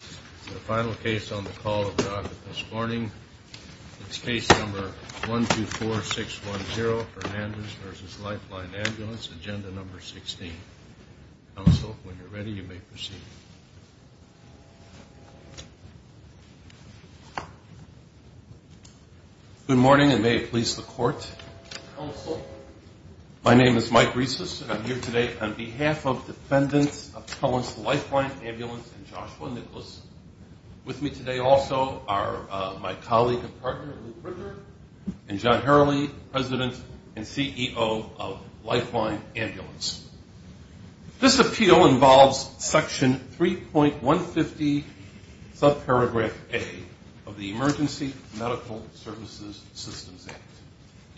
The final case on the call of God this morning is case number 124610, Hernandez v. Lifeline Ambulance, agenda number 16. Counsel, when you're ready, you may proceed. Good morning, and may it please the Court. Counsel. My name is Mike Risas, and I'm here today on behalf of Defendants of Cohen's Lifeline Ambulance and Joshua Nicholas. With me today also are my colleague and partner, Luke Richard, and John Hurley, President and CEO of Lifeline Ambulance. This appeal involves section 3.150 subparagraph A of the Emergency Medical Services Systems Act.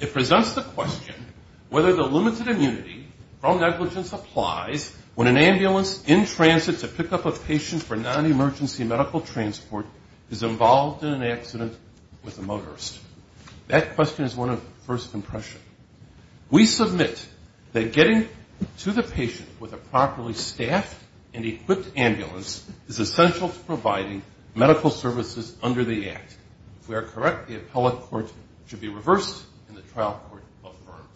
It presents the question whether the limited immunity from negligence applies when an ambulance in transit to pick up a patient for non-emergency medical transport is involved in an accident with a motorist. That question is one of first impression. We submit that getting to the patient with a properly staffed and equipped ambulance is essential to providing medical services under the Act. If we are correct, the appellate court should be reversed and the trial court affirmed.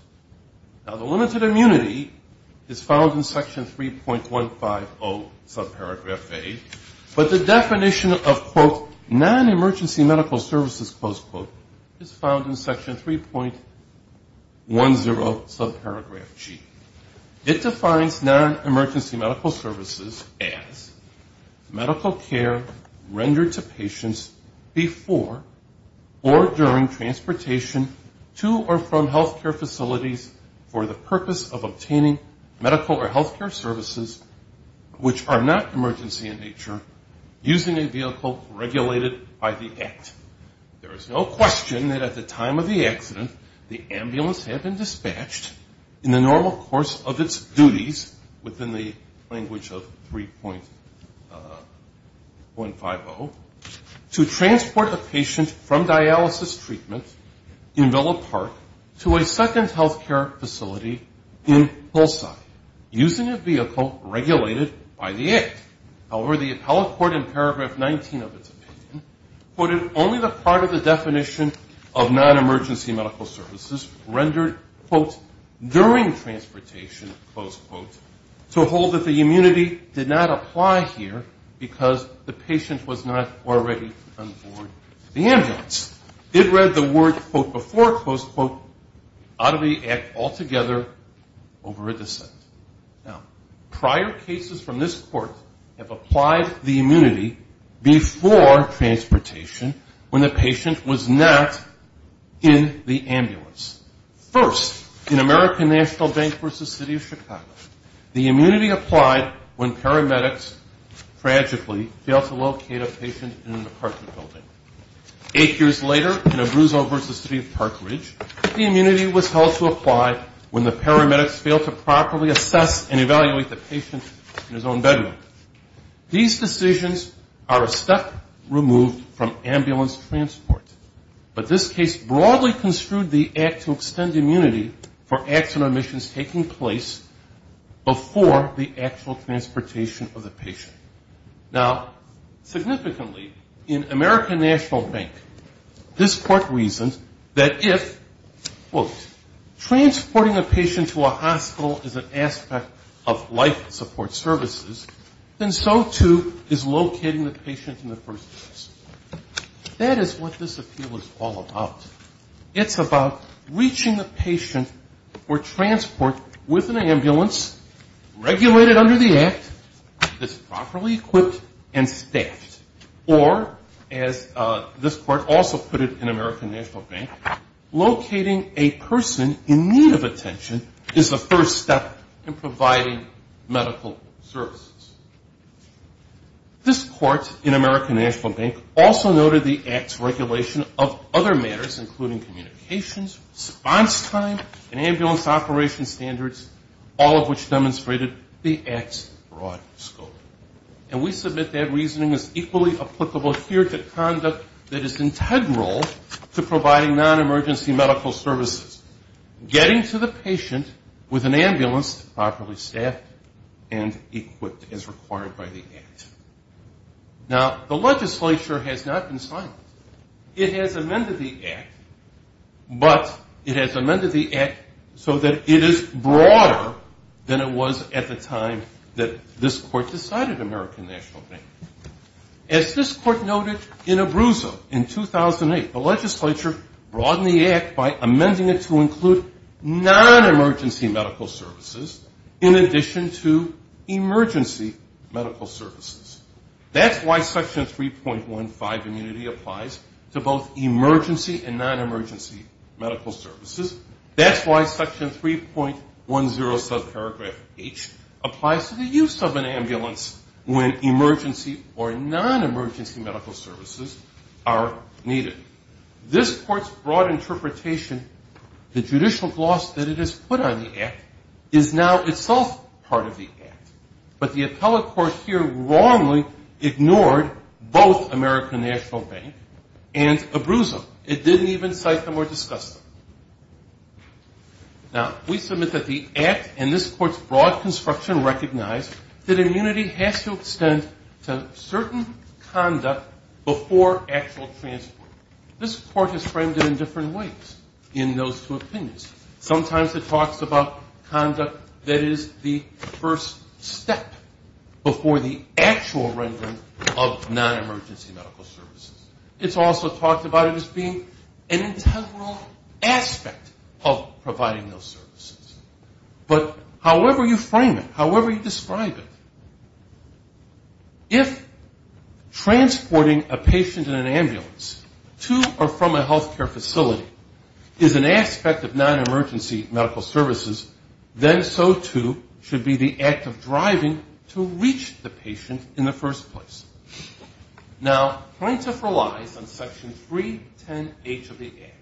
Now, the limited immunity is found in section 3.150 subparagraph A, but the definition of, quote, non-emergency medical services, close quote, is found in section 3.10 subparagraph G. It defines non-emergency medical services as medical care rendered to patients before or during transportation to or from healthcare facilities for the purpose of obtaining medical or healthcare services which are not emergency in nature using a vehicle regulated by the Act. There is no question that at the time of the accident, the ambulance had been dispatched in the normal course of its duties within the language of 3.150 to transport the patient from dialysis treatment in Villa Park to a second healthcare facility in Bullside using a vehicle regulated by the Act. However, the appellate court in paragraph 19 of its opinion quoted only the part of the definition of non-emergency medical services rendered, quote, during transportation, close quote, to hold that the immunity did not apply here because the patient was not already on board the ambulance. It read the word, quote, before, close quote, out of the Act altogether over a dissent. Now, prior cases from this court have applied the immunity before transportation when the patient was not in the ambulance. First, in American National Bank v. City of Chicago, the immunity applied when paramedics tragically failed to locate a patient in an apartment building. Eight years later, in Abruzzo v. City of Park Ridge, the immunity was held to apply when the paramedics failed to properly assess and evaluate the patient in his own bedroom. These decisions are a step removed from ambulance transport, but this case broadly construed the Act to extend immunity for accident omissions taking place before the actual transportation of the patient. Now, significantly, in American National Bank, this court reasons that if, quote, transporting a patient to a hospital is an aspect of life support services, then so, too, is locating the patient in the first place. That is what this appeal is all about. It's about reaching the patient or transport with an ambulance, regulated under the Act, that's properly equipped and staffed. Or, as this court also put it in American National Bank, locating a person in need of attention is the first step in providing medical services. This court in American National Bank also noted the Act's regulation of other matters, including communications, response time, and ambulance operation standards, all of which demonstrated the Act's broad scope. And we submit that reasoning is equally applicable here to conduct that is integral to providing non-emergency medical services. Getting to the patient with an ambulance properly staffed and equipped as required by the Act. Now, the legislature has not been silent. It has amended the Act, but it has amended the Act so that it is broader than it was at the time that this court decided American National Bank. As this court noted in Abruzzo in 2008, the legislature broadened the Act by amending it to include non-emergency medical services in addition to emergency medical services. That's why Section 3.15 immunity applies to both emergency and non-emergency medical services. That's why Section 3.10 subparagraph H applies to the use of an ambulance when emergency or non-emergency medical services are needed. This court's broad interpretation, the judicial gloss that it has put on the Act, is now itself part of the Act. But the appellate court here wrongly ignored both American National Bank and Abruzzo. It didn't even cite them or discuss them. Now, we submit that the Act and this court's broad construction recognize that immunity has to extend to certain conduct before actual transport. This court has framed it in different ways in those two opinions. Sometimes it talks about conduct that is the first step before the actual rendering of non-emergency medical services. It's also talked about it as being an integral aspect of providing those services. But however you frame it, however you describe it, if transporting a patient in an ambulance to or from a healthcare facility is an aspect of non-emergency medical services, then so too should be the act of driving to reach the patient in the first place. Now, plaintiff relies on Section 310H of the Act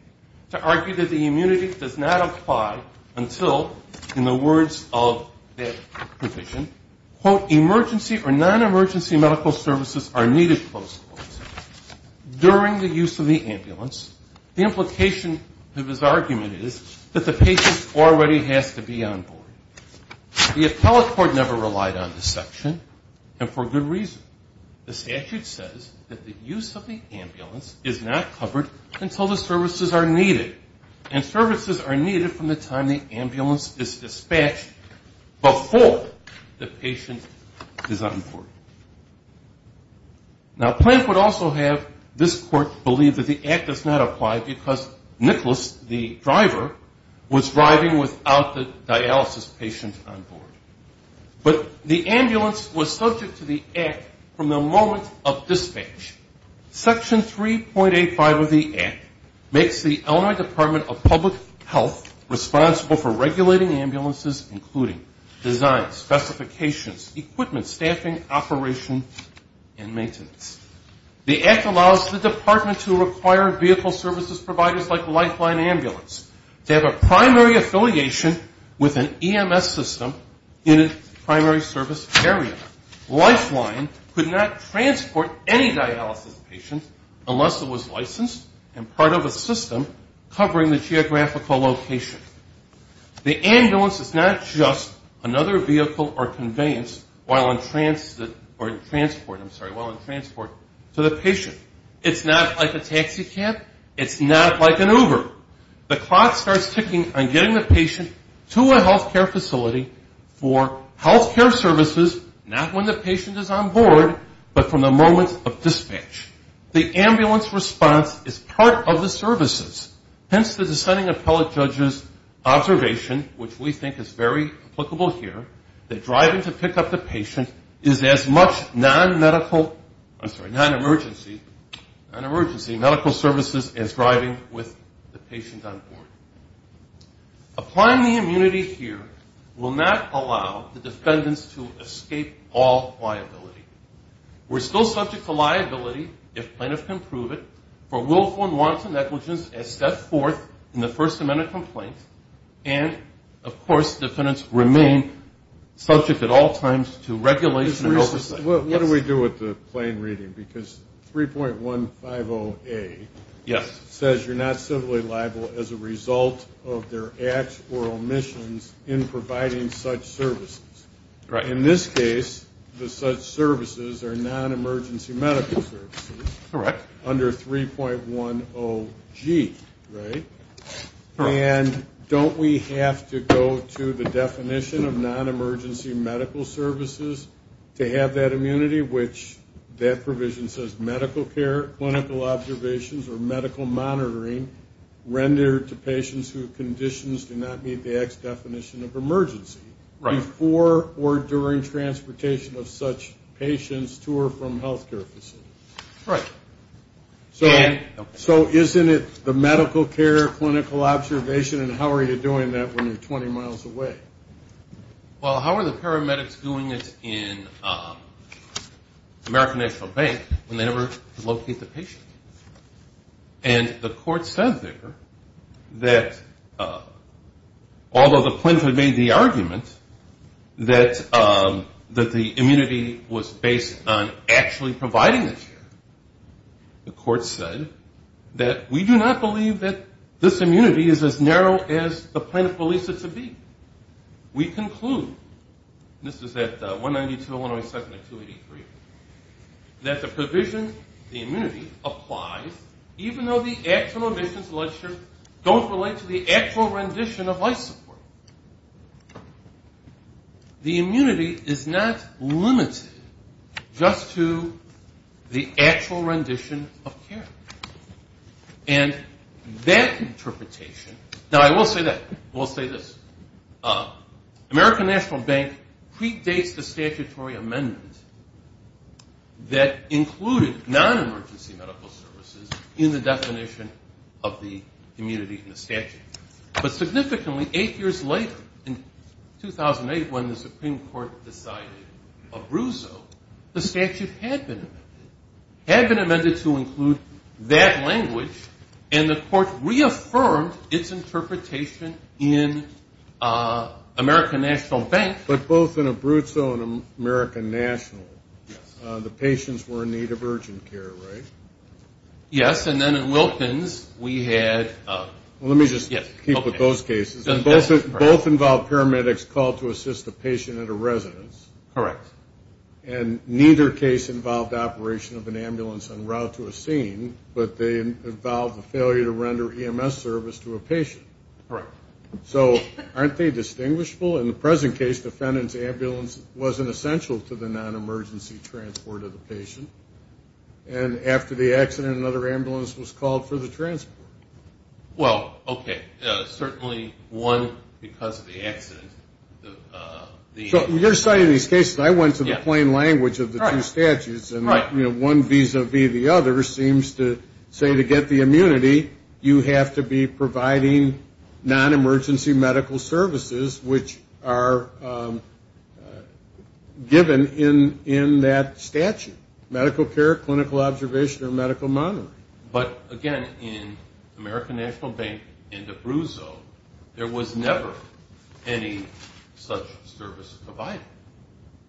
to argue that the immunity does not apply until, in the words of that provision, quote, emergency or non-emergency medical services are needed, close quote. During the use of the ambulance, the implication of his argument is that the patient already has to be on board. The appellate court never relied on this section, and for good reason. The statute says that the use of the ambulance is not covered until the services are needed, and services are needed from the time the ambulance is dispatched before the patient is on board. Now, plaintiff would also have this court believe that the Act does not apply because Nicholas, the driver, was driving without the dialysis patient on board. But the ambulance was subject to the Act from the moment of dispatch. Section 3.85 of the Act makes the Illinois Department of Public Health responsible for regulating ambulances, including design, specifications, equipment, staffing, operation, and maintenance. The Act allows the department to require vehicle services providers like Lifeline Ambulance to have a primary affiliation with an EMS system in a primary service area. Lifeline could not transport any dialysis patient unless it was licensed, and part of a system covering the geographical location. The ambulance is not just another vehicle or conveyance while in transport to the patient. It's not like a taxi cab. It's not like an Uber. The clock starts ticking on getting the patient to a healthcare facility for healthcare services, not when the patient is on board, but from the moment of dispatch. The ambulance response is part of the services, hence the dissenting appellate judge's observation, which we think is very applicable here, that driving to pick up the patient is as much non-medical, I'm sorry, non-emergency medical services as driving with the patient on board. Applying the immunity here will not allow the defendants to escape all liability. We're still subject to liability, if plaintiffs can prove it, for willful and wanton negligence as stepped forth in the First Amendment complaint, and of course defendants remain subject at all times to regulation and oversight. What do we do with the plain reading? Because 3.150A says you're not civilly liable as a result of their acts or omissions in providing such services. In this case, the such services are non-emergency medical services, under 3.10G, right? And don't we have to go to the definition of non-emergency medical services to have that immunity, which that provision says medical care, clinical observations, or medical monitoring rendered to patients whose conditions do not meet the X definition of emergency. Before or during transportation of such patients to or from health care facilities. So isn't it the medical care, clinical observation, and how are you doing that when you're 20 miles away? Well, how are the paramedics doing it in American National Bank when they never locate the patient? And the court said there that although the plaintiff made the argument that the immunity was based on actually providing the care, the court said that we do not believe that this immunity is as narrow as the plaintiff believes it to be. We conclude, this is at 192.107.283, that the provision, the immunity, applies even though the actual remissions don't relate to the actual rendition of life support. The immunity is not limited just to the actual rendition of care. And that interpretation, now, I will say that. I will say this. American National Bank predates the statutory amendment that included non-emergency medical services in the definition of the immunity in the statute. But significantly, eight years later, in 2008 when the Supreme Court decided Abruzzo, the statute had been amended. Had been amended to include that language, and the court reaffirmed its interpretation in American National Bank. But both in Abruzzo and American National, the patients were in need of urgent care, right? Yes, and then in Wilkins, we had... Let me just keep with those cases. Both involved paramedics called to assist a patient at a residence. And neither case involved operation of an ambulance en route to a scene, but they involved the failure to render EMS service to a patient. So aren't they distinguishable? In the present case, defendant's ambulance wasn't essential to the non-emergency transport of the patient. And after the accident, another ambulance was called for the transport. Well, okay. Certainly one because of the accident. So you're citing these cases. I went to the plain language of the two statutes. And one vis-a-vis the other seems to say to get the immunity, you have to be providing non-emergency medical services, which are given in that statute. Medical care, clinical observation, or medical monitoring. But again, in American National Bank and Abruzzo, there was never any such service provided.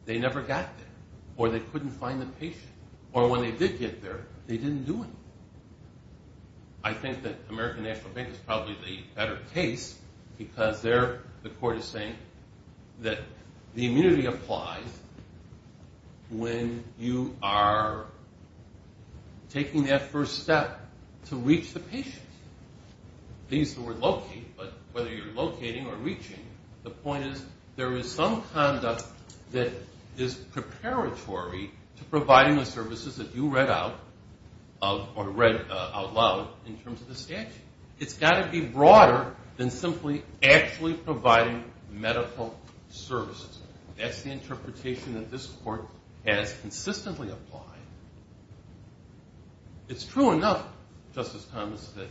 They never got there. Or they couldn't find the patient. Or when they did get there, they didn't do anything. I think that American National Bank is probably the better case because there the court is saying that the immunity applies when you are taking that first step to reach the patient. These were located, but whether you're locating or reaching, the point is there is some conduct that is preparatory to providing the services that you read out loud in terms of the statute. It's got to be broader than simply actually providing medical services. That's the interpretation that this court has consistently applied. It's true enough, Justice Thomas, that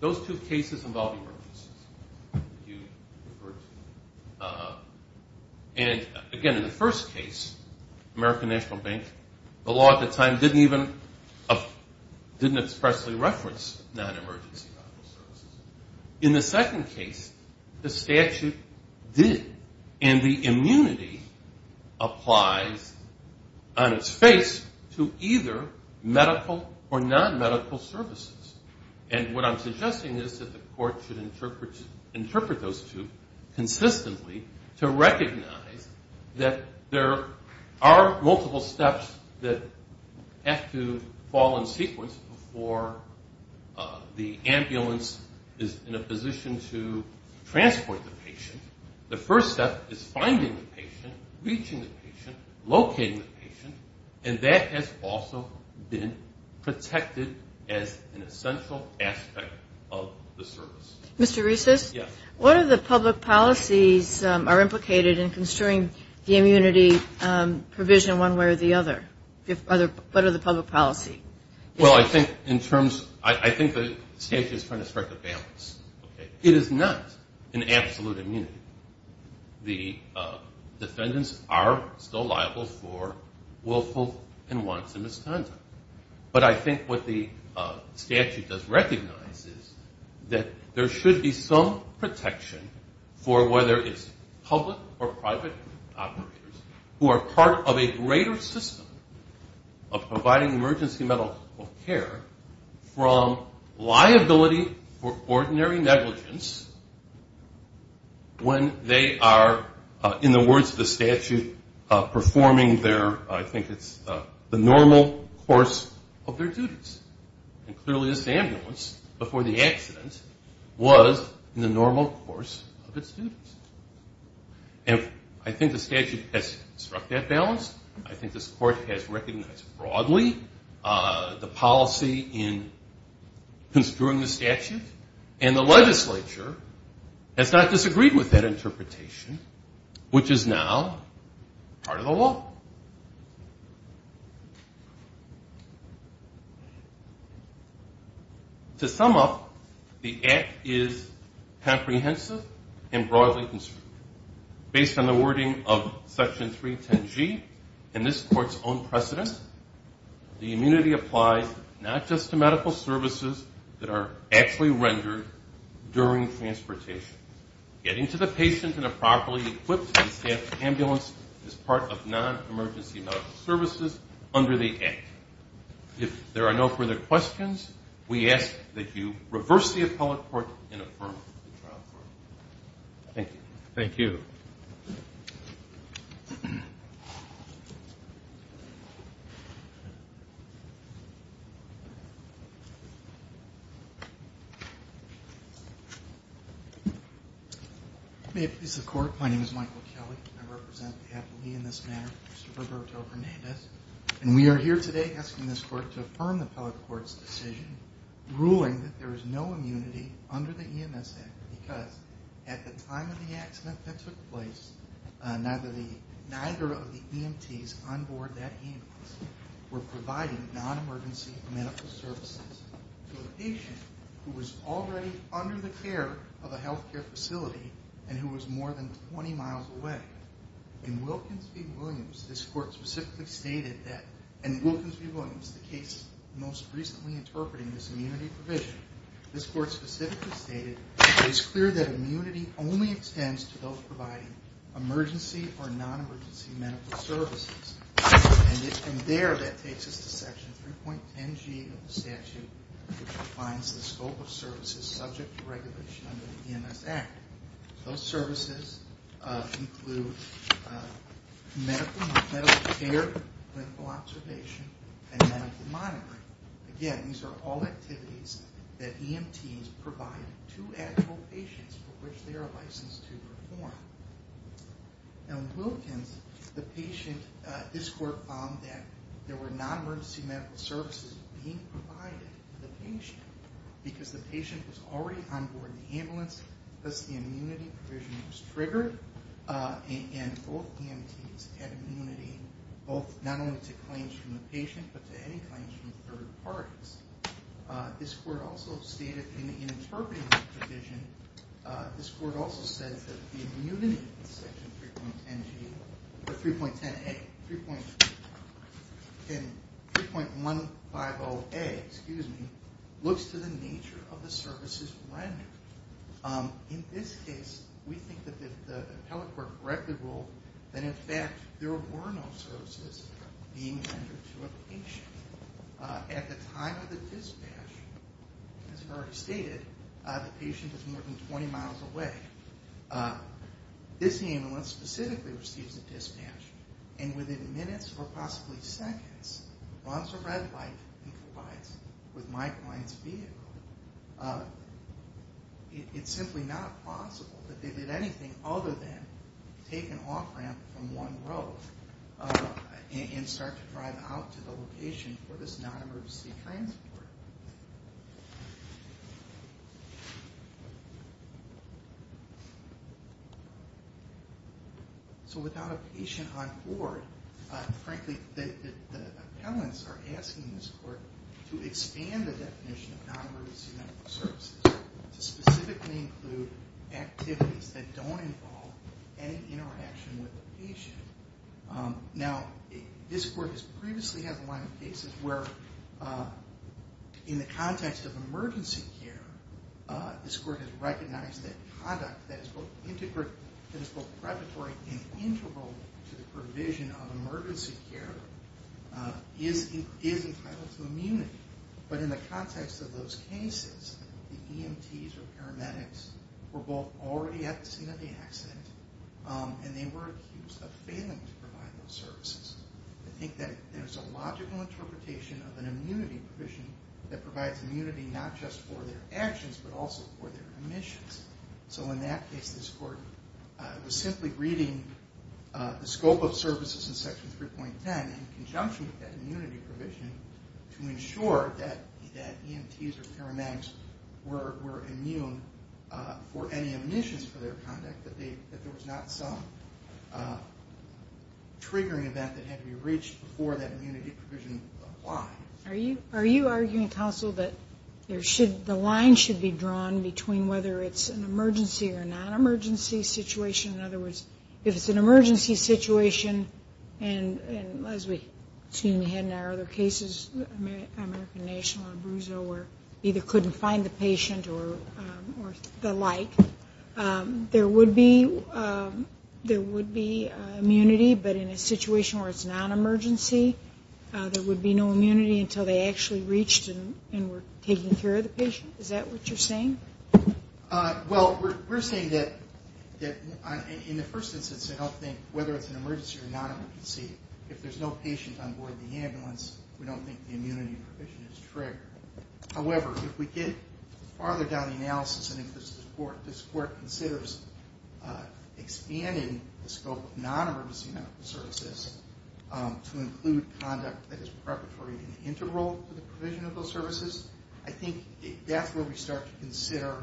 those two cases involve emergencies. And again, in the first case, American National Bank, the law at the time didn't even expressly reference non-emergency medical services. In the second case, the statute did. And the immunity applies on its face to either medical or non-medical services. And what I'm suggesting is that the court should interpret those two consistently to recognize that there are multiple steps that have to fall in sequence before the ambulance is in a position to transport the patient. The first step is finding the patient, reaching the patient, locating the patient, and that has also been protected as an essential aspect of the service. Mr. Reeses, what are the public policies are implicated in construing the immunity provision one way or the other? What are the public policy? Well, I think in terms I think the statute is trying to strike a balance. I think the defendants are still liable for willful and wanton misconduct. But I think what the statute does recognize is that there should be some protection for whether it's public or private operators who are part of a greater system of providing emergency medical care from liability for ordinary negligence when there is an emergency. When they are, in the words of the statute, performing their, I think it's the normal course of their duties. And clearly this ambulance before the accident was in the normal course of its duties. And I think the statute has struck that balance. I think this court has recognized broadly the policy in construing the statute. And the legislature has not disagreed with that interpretation, which is now part of the law. To sum up, the act is comprehensive and broadly construed. Based on the wording of Section 310G and this court's own precedence, the immunity applies not just to medical services that are actually relevant to medical care. But to medical services that are rendered during transportation. Getting to the patient in a properly equipped and staffed ambulance is part of non-emergency medical services under the act. If there are no further questions, we ask that you reverse the appellate court and affirm the trial court. Thank you. May it please the court, my name is Michael Kelly. I represent the appellee in this matter, Mr. Roberto Hernandez. And we are here today asking this court to affirm the appellate court's decision ruling that there is no immunity under the EMS Act. Because at the time of the accident that took place, neither of the EMTs on board that ambulance were providing non-emergency medical services. To a patient who was already under the care of a healthcare facility and who was more than 20 miles away. In Wilkins v. Williams, this court specifically stated that, in Wilkins v. Williams, the case most recently interpreting this immunity provision, this court specifically stated, it is clear that immunity only extends to those providing emergency or non-emergency medical services. And there that takes us to section 3.10G of the statute, which defines the scope of services subject to regulation under the EMS Act. Those services include medical care, clinical observation, and medical monitoring. Again, these are all activities that EMTs provide to actual patients for which they are licensed to perform. Now in Wilkins, this court found that there were non-emergency medical services being provided to the patient. Because the patient was already on board the ambulance, thus the immunity provision was triggered. And both EMTs had immunity, not only to claims from the patient, but to any claims from third parties. This court also stated, in interpreting the provision, this court also said that the immunity in section 3.10A, looks to the nature of the services rendered. In this case, we think that if the appellate court read the rule, that in fact there were no services being rendered to a patient. At the time of the dispatch, as I've already stated, the patient is more than 20 miles away. This ambulance specifically receives a dispatch, and within minutes or possibly seconds, runs a red light and collides with my client's vehicle. It's simply not possible that they did anything other than take an off ramp from one road and start to drive out to the location for this non-emergency transport. So without a patient on board, frankly the appellants are asking this court to expand the definition of non-emergency medical services. To specifically include activities that don't involve any interaction with the patient. Now, this court has previously had a line of cases where in the context of emergency care, this court has recognized that conduct that is both predatory and integral to the provision of emergency care, is entitled to immunity. But in the context of those cases, the EMTs or paramedics were both already at the scene of the accident, and they were accused of failing to provide those services. I think that there's a logical interpretation of an immunity provision that provides immunity not just for their actions, but also for their emissions. So in that case, this court was simply reading the scope of services in Section 3.10 in conjunction with that immunity provision, to ensure that EMTs or paramedics were immune for any emissions for their conduct, that there was not some triggering event that had to be reached before that immunity provision applied. Are you arguing, counsel, that the line should be drawn between whether it's an emergency or non-emergency situation? In other words, if it's an emergency situation, as we had in our other cases, American National and Abruzzo, where either couldn't find the patient or the like, there would be immunity, but in a situation where it's non-emergency, there would be no immunity until they actually reached and were taking care of the patient? Is that what you're saying? Well, we're saying that in the first instance, I don't think whether it's an emergency or non-emergency, if there's no patient on board the ambulance, we don't think the immunity provision is triggered. However, if we get farther down the analysis and into this court, this court considers expanding the scope of non-emergency medical services to include conduct that is preparatory and integral to the provision of those services, I think that's where we start to consider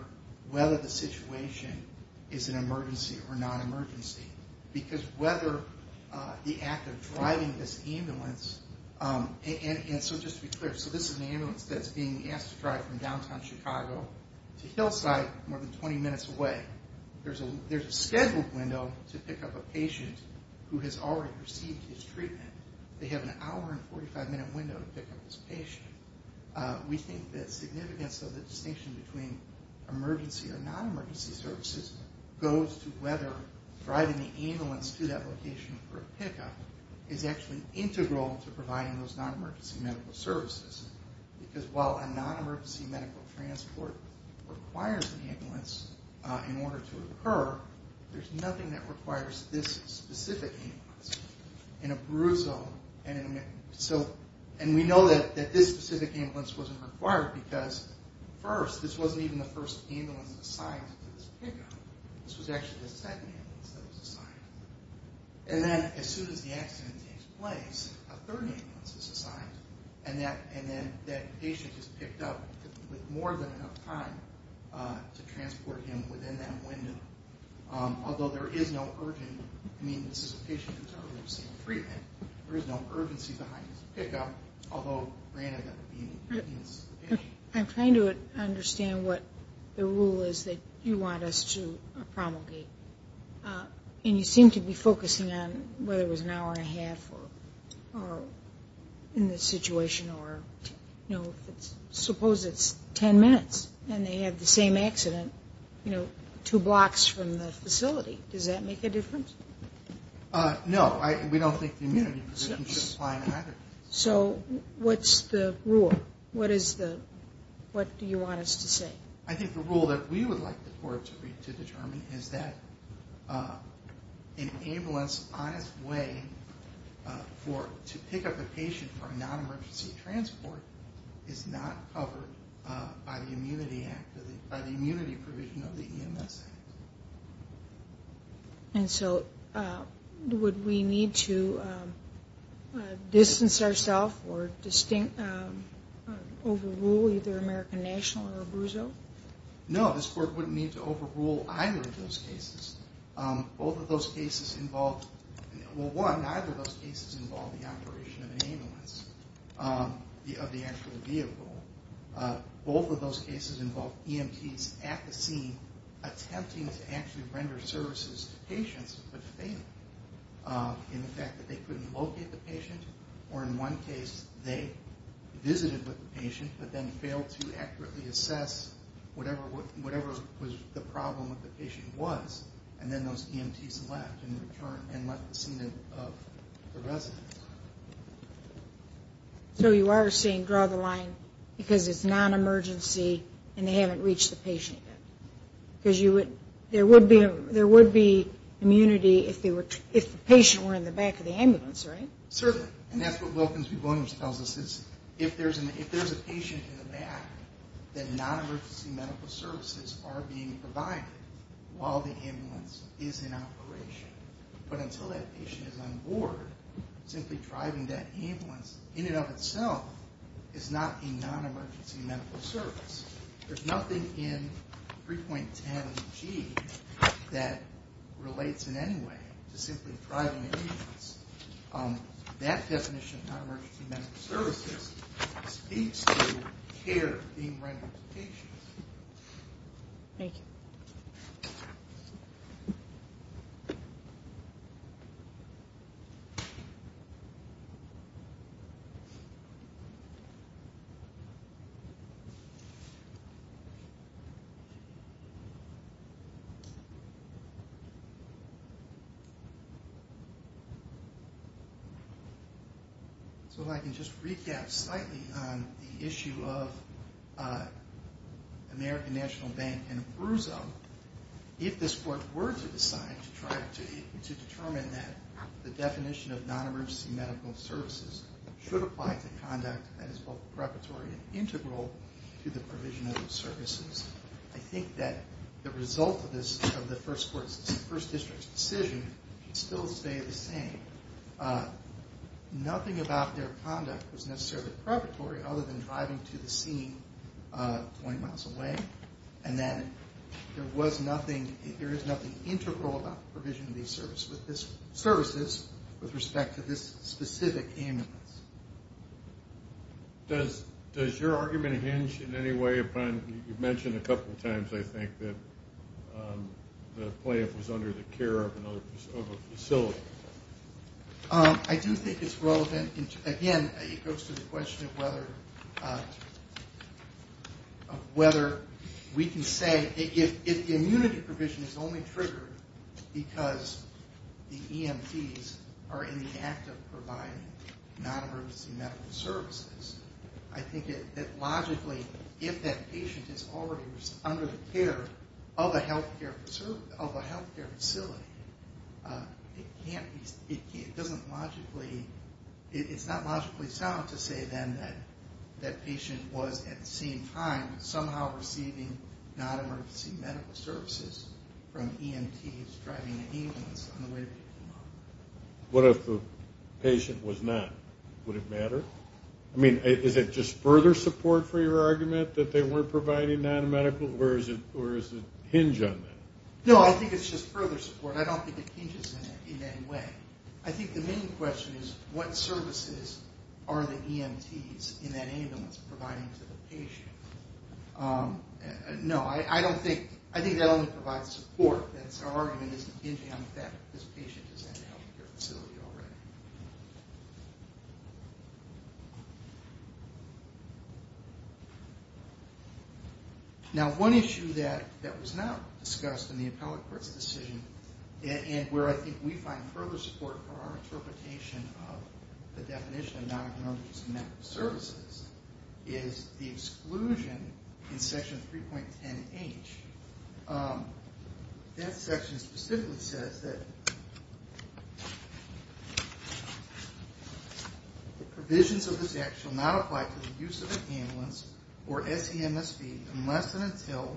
whether the situation is an emergency or non-emergency. Because whether the act of driving this ambulance, and so just to be clear, so this is an ambulance that's being asked to drive from downtown Chicago to Hillside, more than 20 minutes away. There's a scheduled window to pick up a patient who has already received his treatment. They have an hour and 45 minute window to pick up this patient. We think that significance of the distinction between emergency or non-emergency services goes to whether driving the ambulance to that location for a pickup is actually integral to providing those non-emergency medical services. Because while a non-emergency medical transport requires an ambulance in order to occur, there's nothing that requires this specific ambulance. In a bruise zone, and we know that this specific ambulance wasn't required because first, this wasn't even the first ambulance assigned to this pickup. This was actually the second ambulance that was assigned. And then as soon as the accident takes place, a third ambulance is assigned. And then that patient is picked up with more than enough time to transport him within that window. Although there is no urgent, I mean, this is a patient who's already received treatment. There is no urgency behind this pickup, although granted that would be in the interest of the patient. I'm trying to understand what the rule is that you want us to promulgate. And you seem to be focusing on whether it was an hour and a half or in this situation, or suppose it's ten minutes and they had the same accident two blocks from the facility. Does that make a difference? No, we don't think the immunity provision should apply in either case. So what's the rule? What do you want us to say? I think the rule that we would like the court to determine is that an ambulance on its way to pick up a patient for a non-emergency transport is not covered by the immunity provision of the EMS Act. And so would we need to distance ourself or distinctly overrule either American National or Abruzzo? No, this court wouldn't need to overrule either of those cases. Both of those cases involve, well one, neither of those cases involve the operation of an ambulance, of the actual vehicle. Both of those cases involve EMTs at the scene attempting to actually render services to patients, but fail in the fact that they couldn't locate the patient, or in one case they visited with the patient, but then failed to accurately assess whatever was the problem that the patient was. And then those EMTs left and left the scene of the resident. So you are saying draw the line because it's non-emergency and they haven't reached the patient yet. Because there would be immunity if the patient were in the back of the ambulance, right? Certainly. And that's what Wilkins v. Boehner tells us is if there's a patient in the back, then non-emergency medical services are being provided while the ambulance is in operation. But until that patient is on board, simply driving that ambulance in and of itself is not a non-emergency medical service. There's nothing in 3.10G that relates in any way to simply driving an ambulance. That definition of non-emergency medical services speaks to care being rendered to patients. Thank you. So if I can just recap slightly on the issue of American National Bank and BRZO. If this Court were to decide to try to determine that the definition of non-emergency medical services should apply to conduct that is both preparatory and integral to the provision of services, I think that the result of the First District's decision would still stay the same. Nothing about their conduct was necessarily preparatory other than driving to the scene 20 miles away and that there was nothing, there is nothing integral about the provision of these services with respect to this specific ambulance. Does your argument hinge in any way upon, you mentioned a couple of times, I think, that the playup was under the care of another facility. I do think it's relevant. Again, it goes to the question of whether we can say if the immunity provision is only triggered because the EMTs are in the act of providing non-emergency medical services, I think that logically if that patient is already under the care of a healthcare facility, it can't be, it doesn't logically, it's not logically sound to say then that that patient was at the same time somehow receiving non-emergency medical services from EMTs driving the ambulance on the way to the hospital. What if the patient was not? Would it matter? I mean, is it just further support for your argument that they weren't providing non-medical, or is it hinge on that? No, I think it's just further support. I don't think it hinges in any way. I think the main question is what services are the EMTs in that ambulance providing to the patient. No, I don't think, I think that only provides support. Our argument isn't hinging on the fact that this patient is in a healthcare facility already. Now, one issue that was not discussed in the appellate court's decision, and where I think we find further support for our interpretation of the definition of non-emergency medical services, is the exclusion in Section 3.10H. That section specifically says that provisions of this act shall not apply to the use of an ambulance or SEMSV unless and until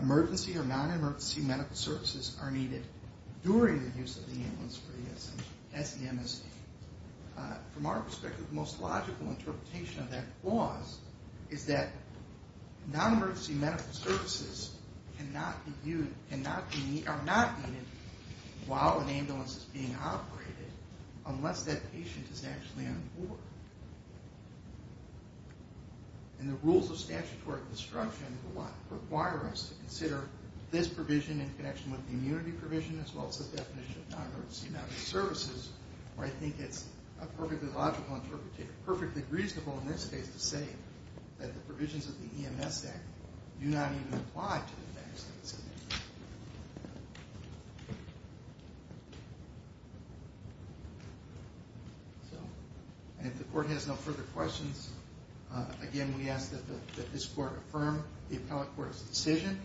emergency or non-emergency medical services are needed during the use of the ambulance for the SEMSV. From our perspective, the most logical interpretation of that clause is that non-emergency medical services are not needed while an ambulance is being operated unless that patient is actually on board. And the rules of statutory construction require us to consider this provision in connection with the immunity provision as well as the definition of non-emergency medical services, where I think it's a perfectly logical interpretation, perfectly reasonable in this case to say that the provisions of the EMS Act do not even apply to the facts of this case. And if the court has no further questions, again, we ask that this court affirm the appellate court's decision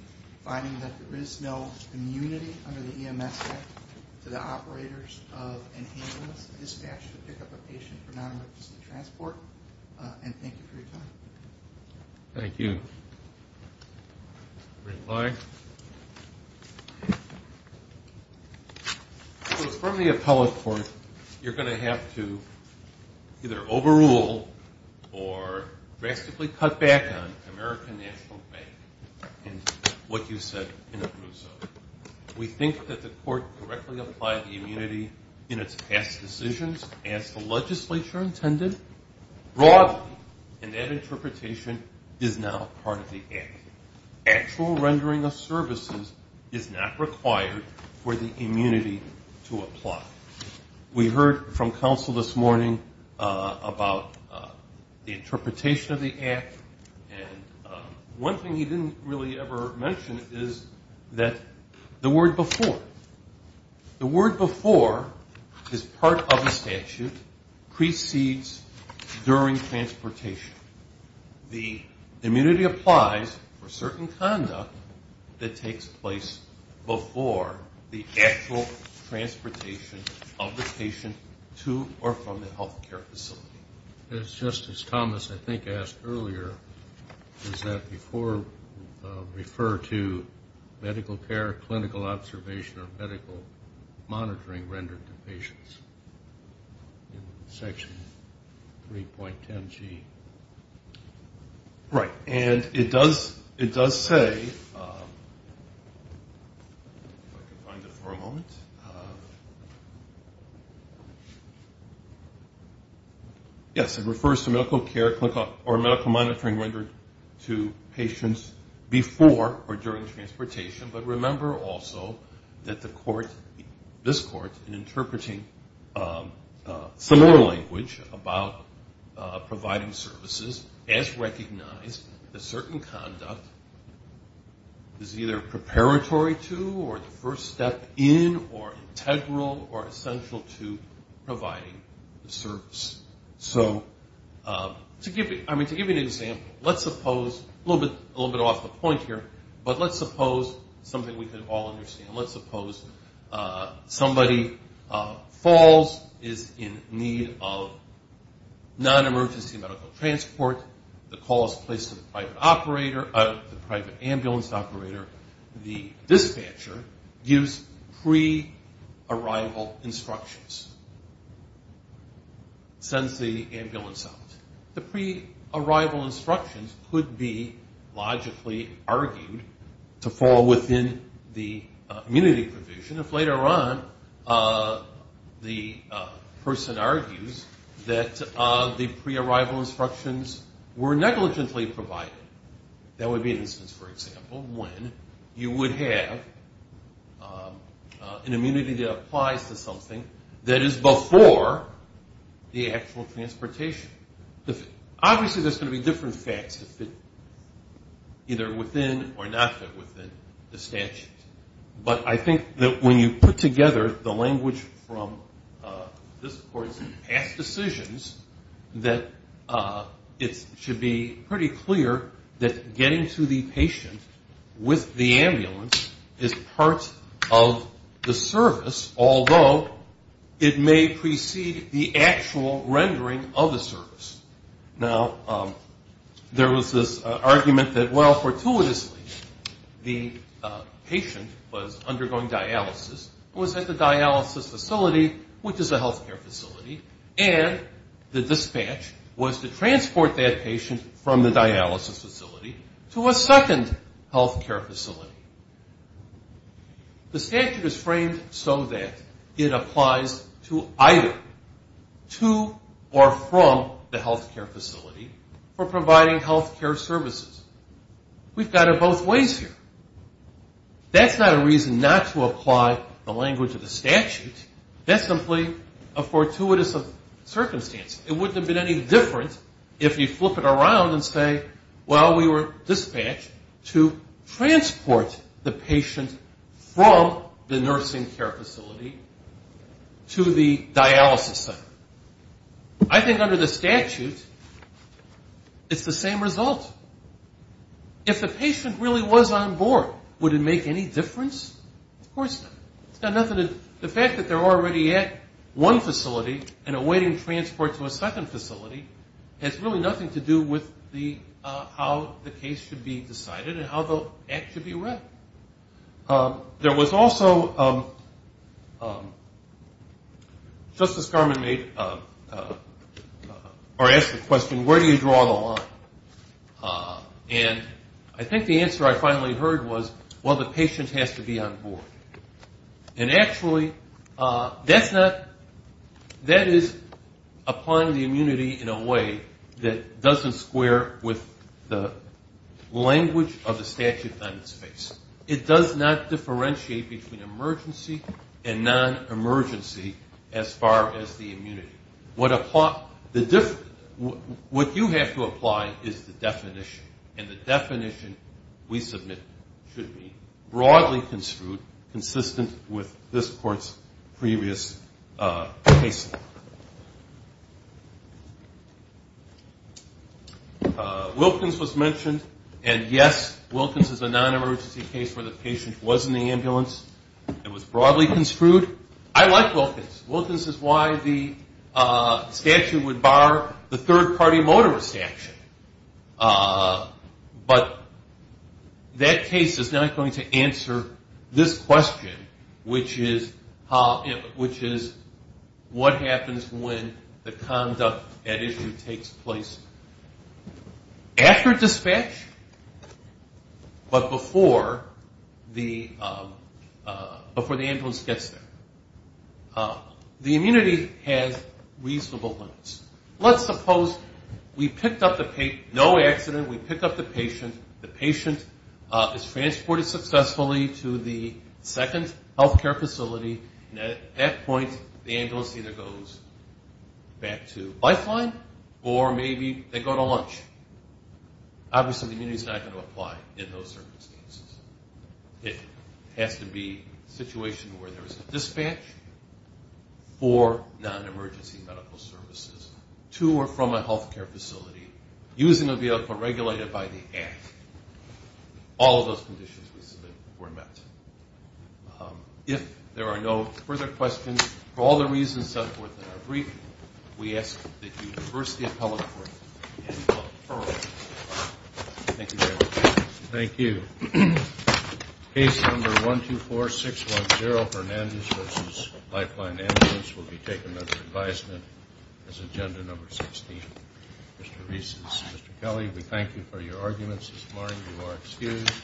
finding that there is no immunity under the EMS Act to the operators of an ambulance dispatched to pick up a patient for non-emergency transport. And thank you for your time. Thank you. So from the appellate court, you're going to have to either overrule or drastically cut back on American National Bank and what you said in Abruzzo. We think that the court directly applied the immunity in its past decisions as the legislature intended broadly, and that interpretation is now part of the Act. Actual rendering of services is not required for the immunity to apply. We heard from counsel this morning about the interpretation of the Act, and one thing he didn't really ever mention is that the word before. The word before is part of the statute, precedes during transportation. The immunity applies for certain conduct that takes place before the actual transportation of the patient to or from the health care facility. As Justice Thomas, I think, asked earlier, does that before refer to medical care, clinical observation, or medical monitoring rendered to patients in Section 3.10G? Right. And it does say, if I can find it for a moment, yes, it refers to medical care or medical monitoring rendered to patients before or during transportation, but remember also that the court, this court, in interpreting similar language about providing services, has recognized that certain conduct is either preparatory to or the first step in or integral or essential to providing the service. So to give you an example, let's suppose, a little bit off the point here, but let's suppose something we can all understand. Let's suppose somebody falls, is in need of non-emergency medical transport, the call is placed to the private ambulance operator, the dispatcher gives pre-arrival instructions, sends the ambulance out. The pre-arrival instructions could be logically argued to fall within the immunity provision if later on the person argues that the pre-arrival instructions were negligently provided. That would be an instance, for example, when you would have an immunity that applies to something that is before the actual transportation. Obviously there's going to be different facts that fit either within or not fit within the statute, but I think that when you put together the language from this court's past decisions, that it should be pretty clear that getting to the patient with the ambulance is part of the service, although it may precede the actual rendering of the service. Now, there was this argument that, well, fortuitously, the patient was undergoing dialysis, was at the dialysis facility, which is a healthcare facility, and the dispatch was to transport that patient from the dialysis facility to a second healthcare facility. The statute is framed so that it applies to either to or from the healthcare facility for providing healthcare services. We've got it both ways here. That's not a reason not to apply the language of the statute. That's simply a fortuitous circumstance. It wouldn't have been any different if you flip it around and say, well, we were dispatched to transport the patient from the nursing care facility to the dialysis center. I think under the statute it's the same result. If the patient really was on board, would it make any difference? Of course not. The fact that they're already at one facility and awaiting transport to a second facility has really nothing to do with how the case should be decided and how the act should be read. There was also, Justice Garmon asked the question, where do you draw the line? And I think the answer I finally heard was, well, the patient has to be on board. And actually, that is applying the immunity in a way that doesn't square with the language of the statute on its face. It does not differentiate between emergency and non-emergency as far as the immunity. What you have to apply is the definition, and the definition we submit should be broadly construed, consistent with this Court's previous case law. Wilkins was mentioned, and yes, Wilkins is a non-emergency case where the patient was in the ambulance. It was broadly construed. I like Wilkins. Wilkins is why the statute would bar the third-party motorist action. But that case is not going to answer this question, which is what happens when the conduct at issue takes place after dispatch but before the ambulance gets there? The immunity has reasonable limits. Let's suppose we picked up the patient, no accident, we pick up the patient, the patient is transported successfully to the second healthcare facility, and at that point the ambulance either goes back to lifeline or maybe they go to lunch. Obviously the immunity is not going to apply in those circumstances. It has to be a situation where there is a dispatch for non-emergency medical services to or from a healthcare facility using a vehicle regulated by the Act. All of those conditions we submit were met. If there are no further questions, for all the reasons set forth in our briefing, we ask that you reverse the appellate court and defer it. Thank you very much. Thank you. Case number 124610, Hernandez v. Lifeline Ambulance, will be taken under advisement as agenda number 16. Mr. Reese, Mr. Kelly, we thank you for your arguments this morning. You are excused.